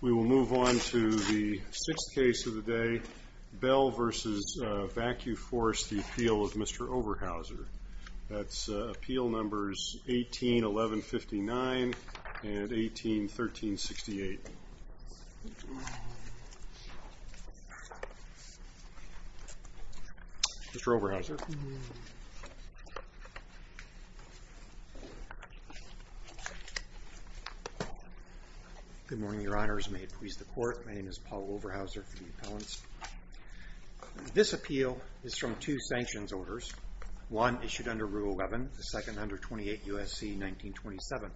We will move on to the sixth case of the day, Bell v. Vacuforce, the appeal of Mr. Oberhauser. That's appeal numbers 18-1159 and 18-1368. Mr. Oberhauser. Good morning, your honors. May it please the court, my name is Paul Oberhauser for the appellants. This appeal is from two sanctions orders, one issued under Rule 11, the second under 28 U.S.C. 1927.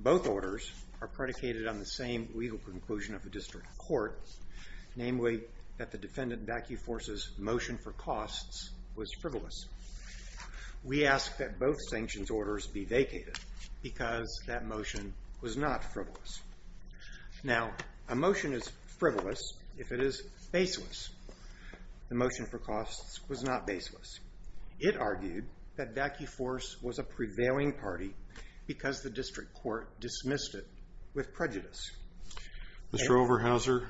Both orders are predicated on the same legal conclusion of the district court, namely that the defendant Vacuforce's motion for costs was frivolous. We ask that both sanctions orders be vacated because that motion was not frivolous. Now, a motion is frivolous if it is baseless. The motion for costs was not baseless. It argued that Vacuforce was a prevailing party because the district court dismissed it with prejudice. Mr. Oberhauser,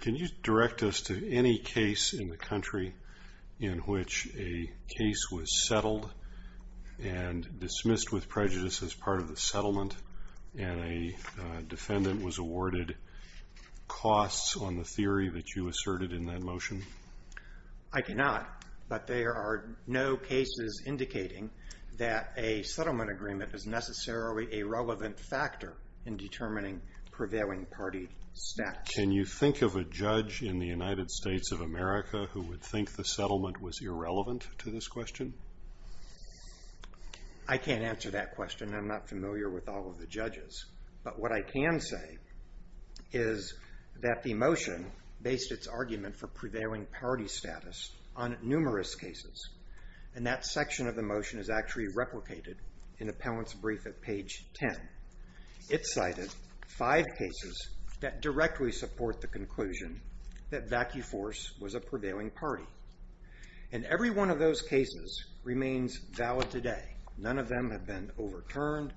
can you direct us to any case in the country in which a case was settled and dismissed with prejudice as part of the settlement and a defendant was awarded costs on the theory that you asserted in that motion? I cannot, but there are no cases indicating that a settlement agreement is necessarily a relevant factor in determining prevailing party status. Can you think of a judge in the United States of America who would think the settlement was irrelevant to this question? I can't answer that question. I'm not familiar with all of the judges. But what I can say is that the motion based its argument for prevailing party status on numerous cases. And that section of the motion is actually replicated in Appellant's brief at page 10. It cited five cases that directly support the conclusion that Vacuforce was a prevailing party. And every one of those cases remains valid today. None of them have been overturned.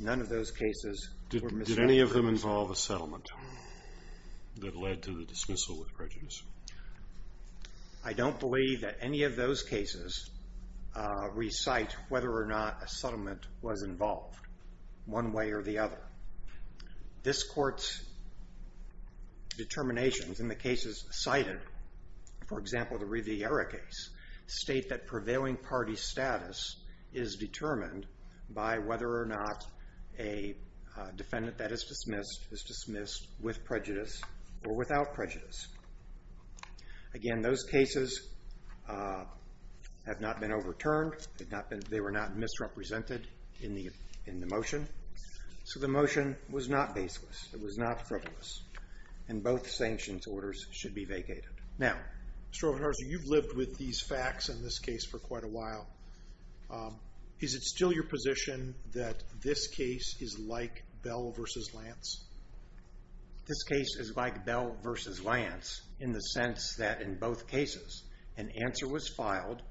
None of those cases were misinterpreted. Did any of them involve a settlement that led to the dismissal with prejudice? I don't believe that any of those cases recite whether or not a settlement was involved one way or the other. This Court's determinations in the cases cited, for example, the Riviera case, state that prevailing party status is determined by whether or not a defendant that is dismissed is dismissed with prejudice or without prejudice. Again, those cases have not been overturned. They were not misrepresented in the motion. So the motion was not baseless. It was not frivolous. And both sanctions orders should be vacated. Now, Mr. Ovenhorser, you've lived with these facts in this case for quite a while. Is it still your position that this case is like Bell v. Lance? This case is like Bell v. Lance in the sense that in both cases, an answer was filed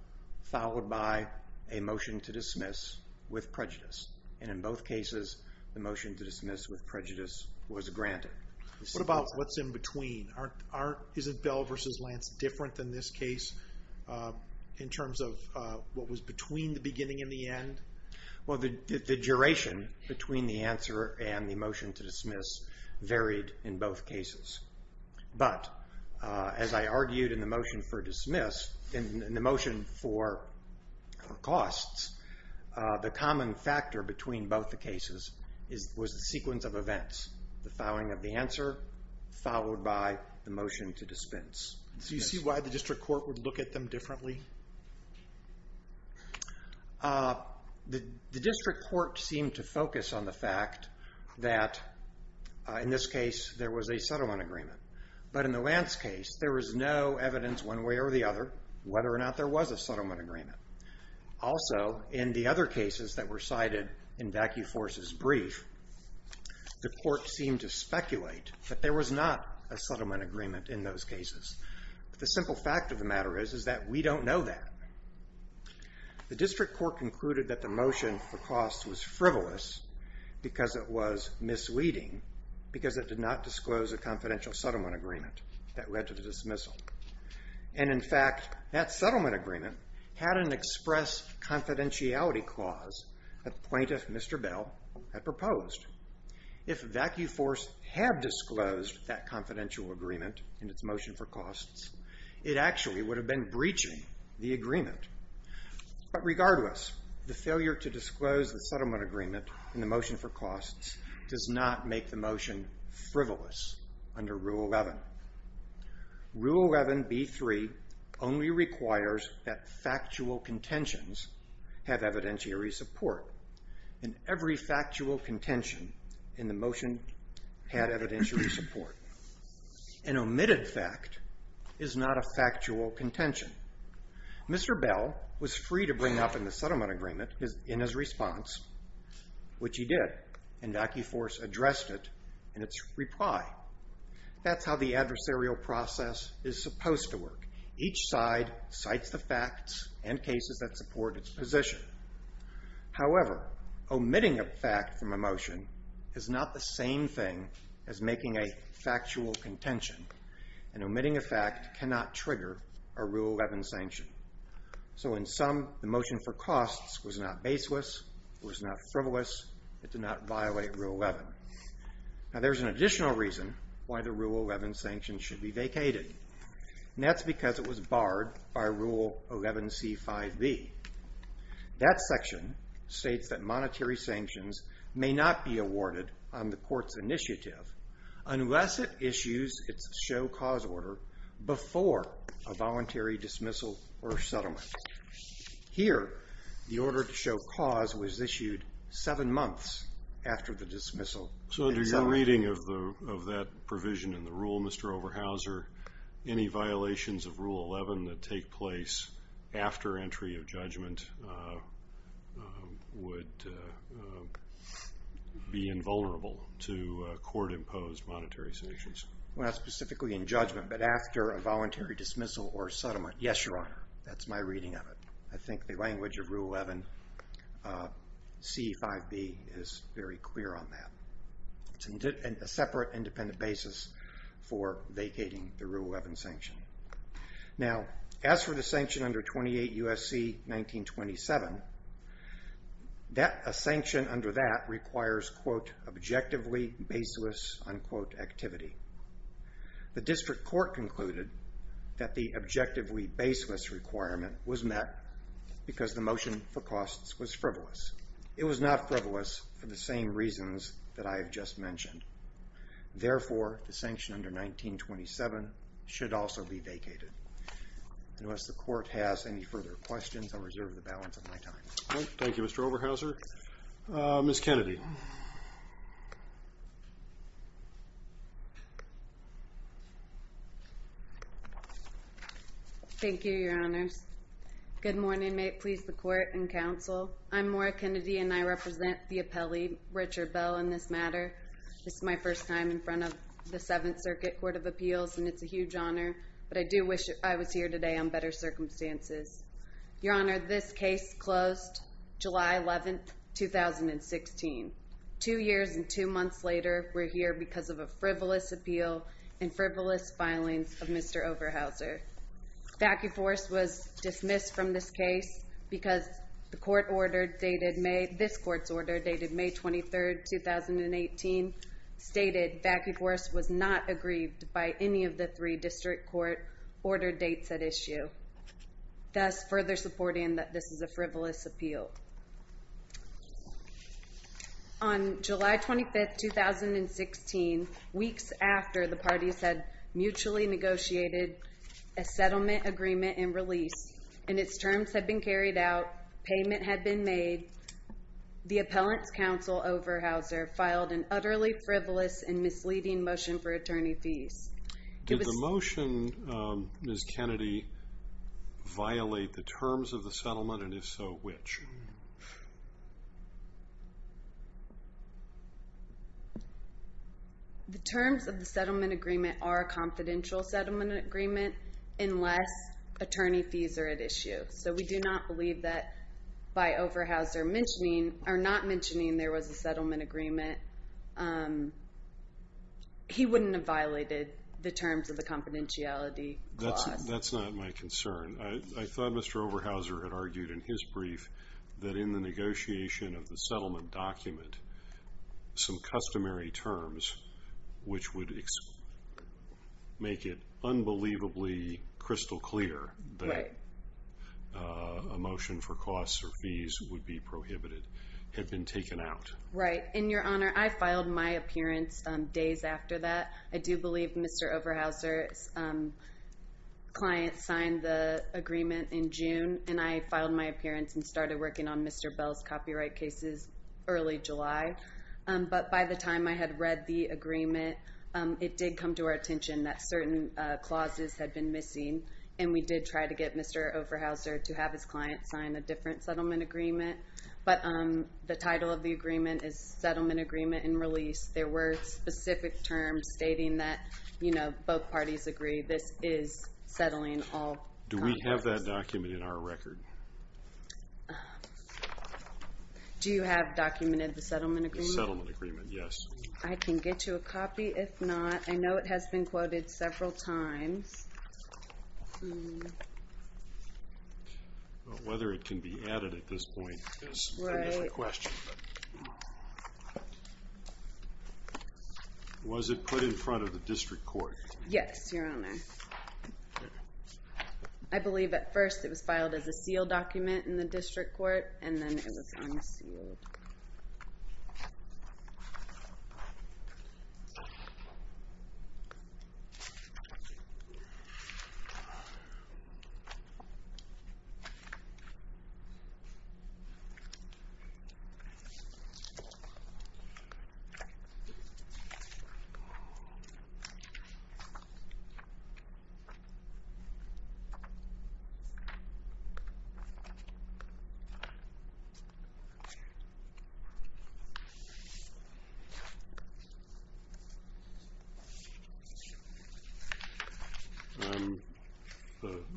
followed by a motion to dismiss with prejudice. And in both cases, the motion to dismiss with prejudice was granted. What about what's in between? Isn't Bell v. Lance different than this case in terms of what was between the beginning and the end? Well, the duration between the answer and the motion to dismiss varied in both cases. But as I argued in the motion for dismiss, in the motion for costs, the common factor between both the cases was the sequence of events, the filing of the answer followed by the motion to dispense. Do you see why the district court would look at them differently? The district court seemed to focus on the fact that, in this case, there was a settlement agreement. But in the Lance case, there was no evidence one way or the other whether or not there was a settlement agreement. Also, in the other cases that were cited in Vaccu-Force's brief, the court seemed to speculate that there was not a settlement agreement in those cases. The simple fact of the matter is that we don't know that. The district court concluded that the motion for costs was frivolous because it was misleading because it did not disclose a confidential settlement agreement that led to the dismissal. And in fact, that settlement agreement had an express confidentiality clause that the plaintiff, Mr. Bell, had proposed. If Vaccu-Force had disclosed that confidential agreement in its motion for costs, it actually would have been breaching the agreement. But regardless, the failure to disclose the settlement agreement in the motion for costs does not make the motion frivolous under Rule 11. Rule 11B3 only requires that factual contentions have evidentiary support. And every factual contention in the motion had evidentiary support. An omitted fact is not a factual contention. Mr. Bell was free to bring up in the settlement agreement in his response, which he did, and Vaccu-Force addressed it in its reply. That's how the adversarial process is supposed to work. Each side cites the facts and cases that support its position. However, omitting a fact from a motion is not the same thing as making a factual contention. And omitting a fact cannot trigger a Rule 11 sanction. So in sum, the motion for costs was not baseless. It was not frivolous. It did not violate Rule 11. Now there's an additional reason why the Rule 11 sanction should be vacated. And that's because it was barred by Rule 11C5B. That section states that monetary sanctions may not be awarded on the court's initiative unless it issues its show cause order before a voluntary dismissal or settlement. Here, the order to show cause was issued seven months after the dismissal. So under your reading of that provision in the Rule, Mr. Overhauser, any violations of Rule 11 that take place after entry of judgment would be invulnerable to court-imposed monetary sanctions. Well, not specifically in judgment, but after a voluntary dismissal or settlement. Yes, Your Honor. That's my reading of it. I think the language of Rule 11C5B is very clear on that. It's a separate independent basis for vacating the Rule 11 sanction. Now, as for the sanction under 28 U.S.C. 1927, a sanction under that requires, quote, objectively baseless, unquote, activity. The district court concluded that the objectively baseless requirement was met because the motion for costs was frivolous. It was not frivolous for the same reasons that I have just mentioned. Therefore, the sanction under 1927 should also be vacated. Unless the court has any further questions, I'll reserve the balance of my time. Thank you, Mr. Overhauser. Ms. Kennedy. Thank you, Your Honors. Good morning. May it please the court and counsel. I'm Maura Kennedy, and I represent the appellee, Richard Bell, in this matter. This is my first time in front of the Seventh Circuit Court of Appeals, and it's a huge honor, but I do wish I was here today on better circumstances. Your Honor, this case closed July 11, 2016. Two years and two months later, we're here because of a frivolous appeal and frivolous filings of Mr. Overhauser. Vacuforce was dismissed from this case because this court's order dated May 23, 2018, stated Vacuforce was not aggrieved by any of the three district court order dates at issue, thus further supporting that this is a frivolous appeal. On July 25, 2016, weeks after the parties had mutually negotiated a settlement agreement and release, and its terms had been carried out, payment had been made, the appellant's counsel, Overhauser, filed an utterly frivolous and misleading motion for attorney fees. Did the motion, Ms. Kennedy, violate the terms of the settlement, and if so, which? The terms of the settlement agreement are a confidential settlement agreement unless attorney fees are at issue. So we do not believe that by Overhauser not mentioning there was a settlement agreement, he wouldn't have violated the terms of the confidentiality clause. That's not my concern. I thought Mr. Overhauser had argued in his brief that in the negotiation of the settlement document, some customary terms which would make it unbelievably crystal clear that a motion for costs or fees would be prohibited had been taken out. Right. And, Your Honor, I filed my appearance days after that. I do believe Mr. Overhauser's client signed the agreement in June, and I filed my appearance and started working on Mr. Bell's copyright cases early July. But by the time I had read the agreement, it did come to our attention that certain clauses had been missing, and we did try to get Mr. Overhauser to have his client sign a different settlement agreement. But the title of the agreement is Settlement Agreement and Release. There were specific terms stating that both parties agree this is settling all copyrights. Do we have that document in our record? Do you have documented the settlement agreement? The settlement agreement, yes. I can get you a copy. If not, I know it has been quoted several times. But whether it can be added at this point is another question. Right. Was it put in front of the district court? Yes, Your Honor. I believe at first it was filed as a sealed document in the district court, and then it was unsealed.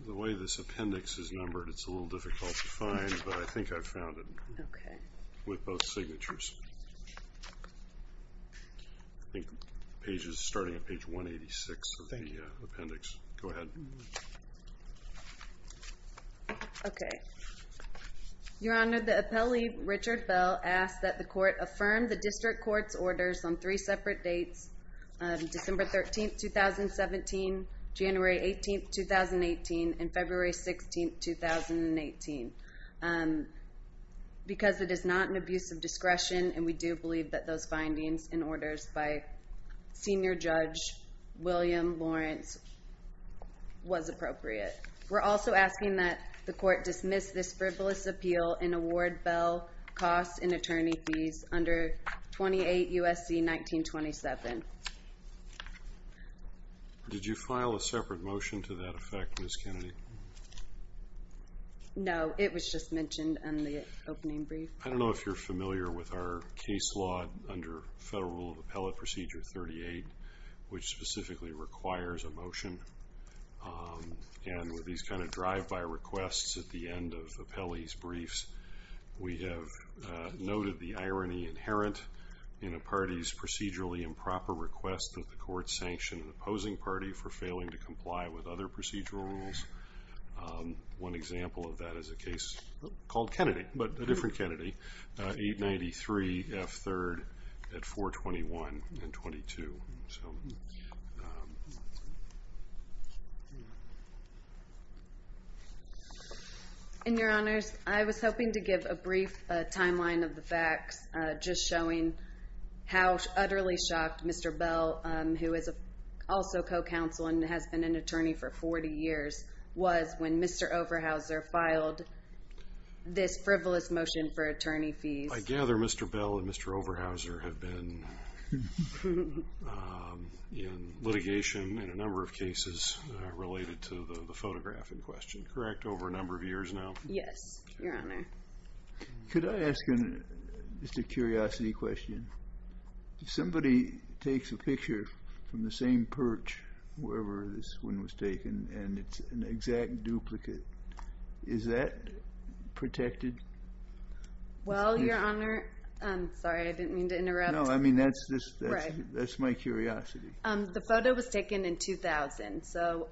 The way this appendix is numbered, it's a little difficult to find, but I think I've found it. Okay. With both signatures. I think the page is starting at page 186 of the appendix. Go ahead. Okay. Your Honor, the appellee, Richard Bell, asked that the court affirm the district court's orders on three separate dates, December 13, 2017, January 18, 2018, and February 16, 2018. Because it is not an abuse of discretion, and we do believe that those findings and orders by Senior Judge William Lawrence was appropriate. We're also asking that the court dismiss this frivolous appeal and award Bell costs and attorney fees under 28 U.S.C. 1927. Did you file a separate motion to that effect, Ms. Kennedy? No, it was just mentioned in the opening brief. I don't know if you're familiar with our case law under Federal Rule of Appellate Procedure 38, which specifically requires a motion. And with these kind of drive-by requests at the end of appellee's briefs, we have noted the irony inherent in a party's procedurally improper request that the court sanction an opposing party for failing to comply with other procedural rules. One example of that is a case called Kennedy, but a different Kennedy, 893 F. 3rd at 421 and 22. And, Your Honors, I was hoping to give a brief timeline of the facts, just showing how utterly shocked Mr. Bell, who is also co-counsel and has been an attorney for 40 years, was when Mr. Overhauser filed this frivolous motion for attorney fees. I gather Mr. Bell and Mr. Overhauser have been in litigation in a number of cases related to the photograph in question, correct? Over a number of years now? Yes, Your Honor. Could I ask a curiosity question? If somebody takes a picture from the same perch wherever this one was taken and it's an exact duplicate, is that protected? Well, Your Honor, I'm sorry, I didn't mean to interrupt. No, I mean, that's my curiosity. The photo was taken in 2000, so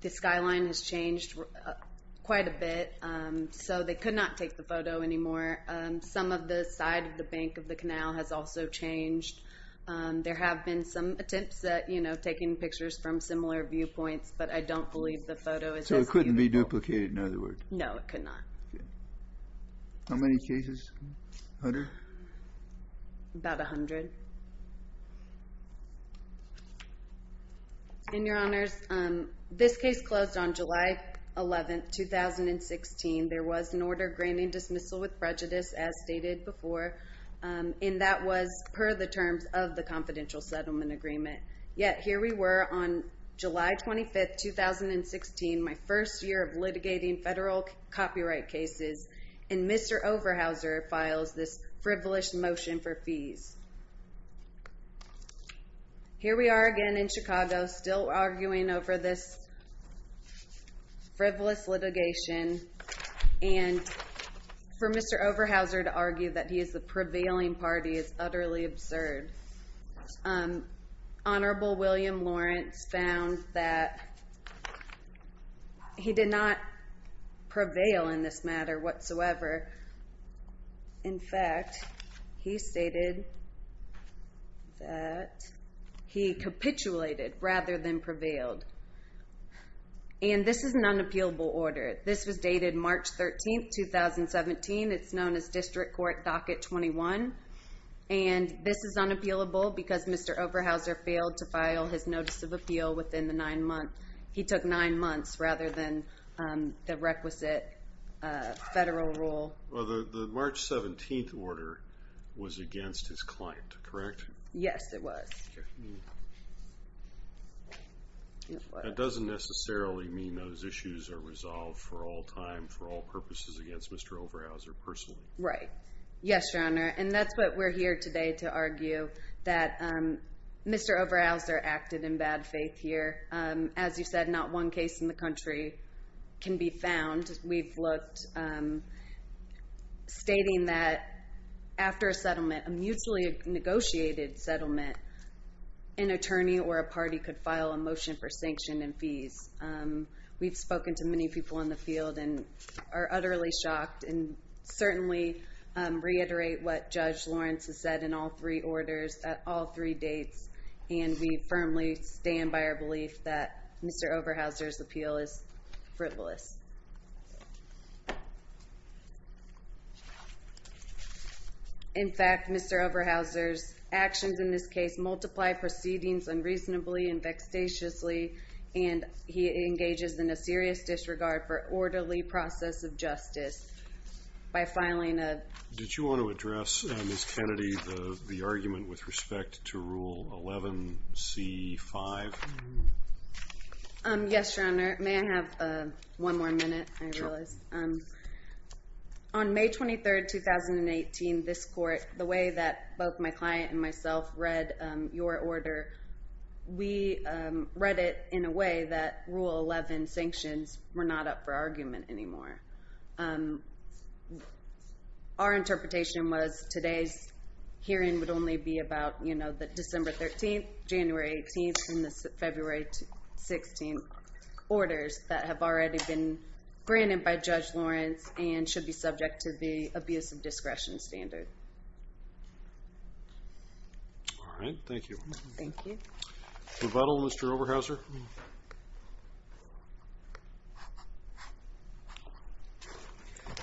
the skyline has changed quite a bit. So they could not take the photo anymore. Some of the side of the bank of the canal has also changed. There have been some attempts at taking pictures from similar viewpoints, but I don't believe the photo is as beautiful. So it couldn't be duplicated, in other words? No, it could not. How many cases? A hundred? About a hundred. And, Your Honors, this case closed on July 11, 2016. There was an order granting dismissal with prejudice, as stated before, and that was per the terms of the confidential settlement agreement. Yet here we were on July 25, 2016, my first year of litigating federal copyright cases, and Mr. Overhauser files this frivolous motion for fees. Here we are again in Chicago, still arguing over this frivolous litigation, and for Mr. Overhauser to argue that he is the prevailing party is utterly absurd. Honorable William Lawrence found that he did not prevail in this matter whatsoever. In fact, he stated that he capitulated rather than prevailed, and this is an unappealable order. This was dated March 13, 2017. It's known as District Court Docket 21, and this is unappealable because Mr. Overhauser failed to file his notice of appeal within the nine months. He took nine months rather than the requisite federal rule. The March 17 order was against his client, correct? Yes, it was. That doesn't necessarily mean those issues are resolved for all time, for all purposes against Mr. Overhauser personally. Right. Yes, Your Honor, and that's what we're here today to argue, that Mr. Overhauser acted in bad faith here. As you said, not one case in the country can be found. We've looked, stating that after a settlement, a mutually negotiated settlement, an attorney or a party could file a motion for sanction and fees. We've spoken to many people in the field and are utterly shocked and certainly reiterate what Judge Lawrence has said in all three orders at all three dates, and we firmly stand by our belief that Mr. Overhauser's appeal is frivolous. In fact, Mr. Overhauser's actions in this case multiply proceedings unreasonably and vexatiously, and he engages in a serious disregard for orderly process of justice by filing a... Did you want to address, Ms. Kennedy, the argument with respect to Rule 11c-5? Yes, Your Honor. May I have one more minute, I realize? Sure. On May 23, 2018, this court, the way that both my client and myself read your order, we read it in a way that Rule 11 sanctions were not up for argument anymore. Our interpretation was today's hearing would only be about, you know, the December 13th, January 18th, and the February 16th orders that have already been granted by Judge Lawrence and should be subject to the abuse of discretion standard. All right. Thank you. Thank you. Rebuttal, Mr. Overhauser.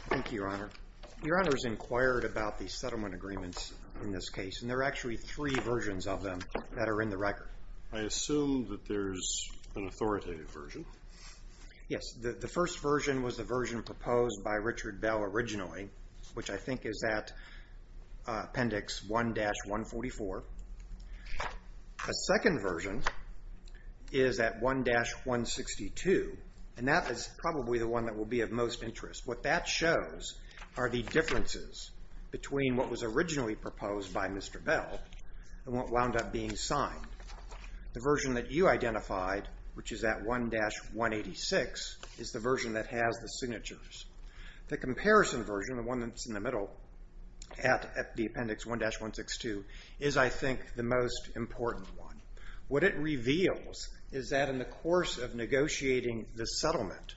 Thank you, Your Honor. Your Honor's inquired about the settlement agreements in this case, and there are actually three versions of them that are in the record. I assume that there's an authoritative version. Yes. The first version was the version proposed by Richard Bell originally, which I think is at Appendix 1-144. A second version is at 1-162, and that is probably the one that will be of most interest. What that shows are the differences between what was originally proposed by Mr. Bell and what wound up being signed. The version that you identified, which is at 1-186, is the version that has the signatures. The comparison version, the one that's in the middle at the Appendix 1-162, is, I think, the most important one. What it reveals is that in the course of negotiating the settlement,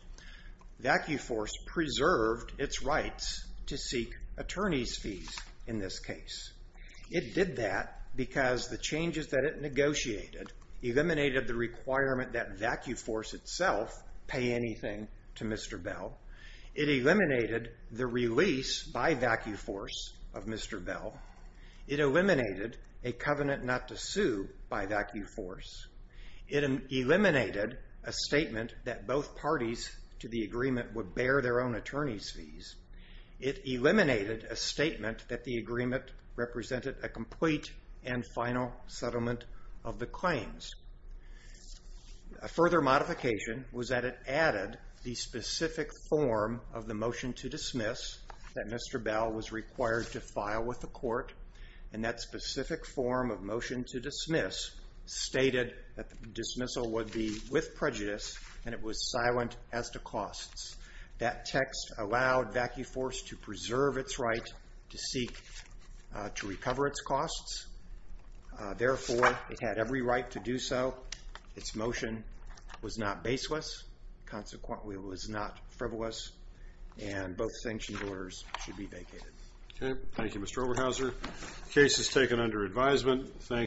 Vacuforce preserved its rights to seek attorney's fees in this case. It did that because the changes that it negotiated eliminated the requirement that Vacuforce itself pay anything to Mr. Bell, it eliminated the release by Vacuforce of Mr. Bell, it eliminated a covenant not to sue by Vacuforce, it eliminated a statement that both parties to the agreement would bear their own attorney's fees, it eliminated a statement that the agreement represented a complete and final settlement of the claims. A further modification was that it added the specific form of the motion to dismiss that Mr. Bell was required to file with the court, and that specific form of motion to dismiss stated that the dismissal would be with prejudice and it was silent as to costs. That text allowed Vacuforce to preserve its right to seek to recover its costs. Therefore, it had every right to do so. Its motion was not baseless, consequently it was not frivolous, and both sanctioned orders should be vacated. Thank you, Mr. Oberhauser. The case is taken under advisement.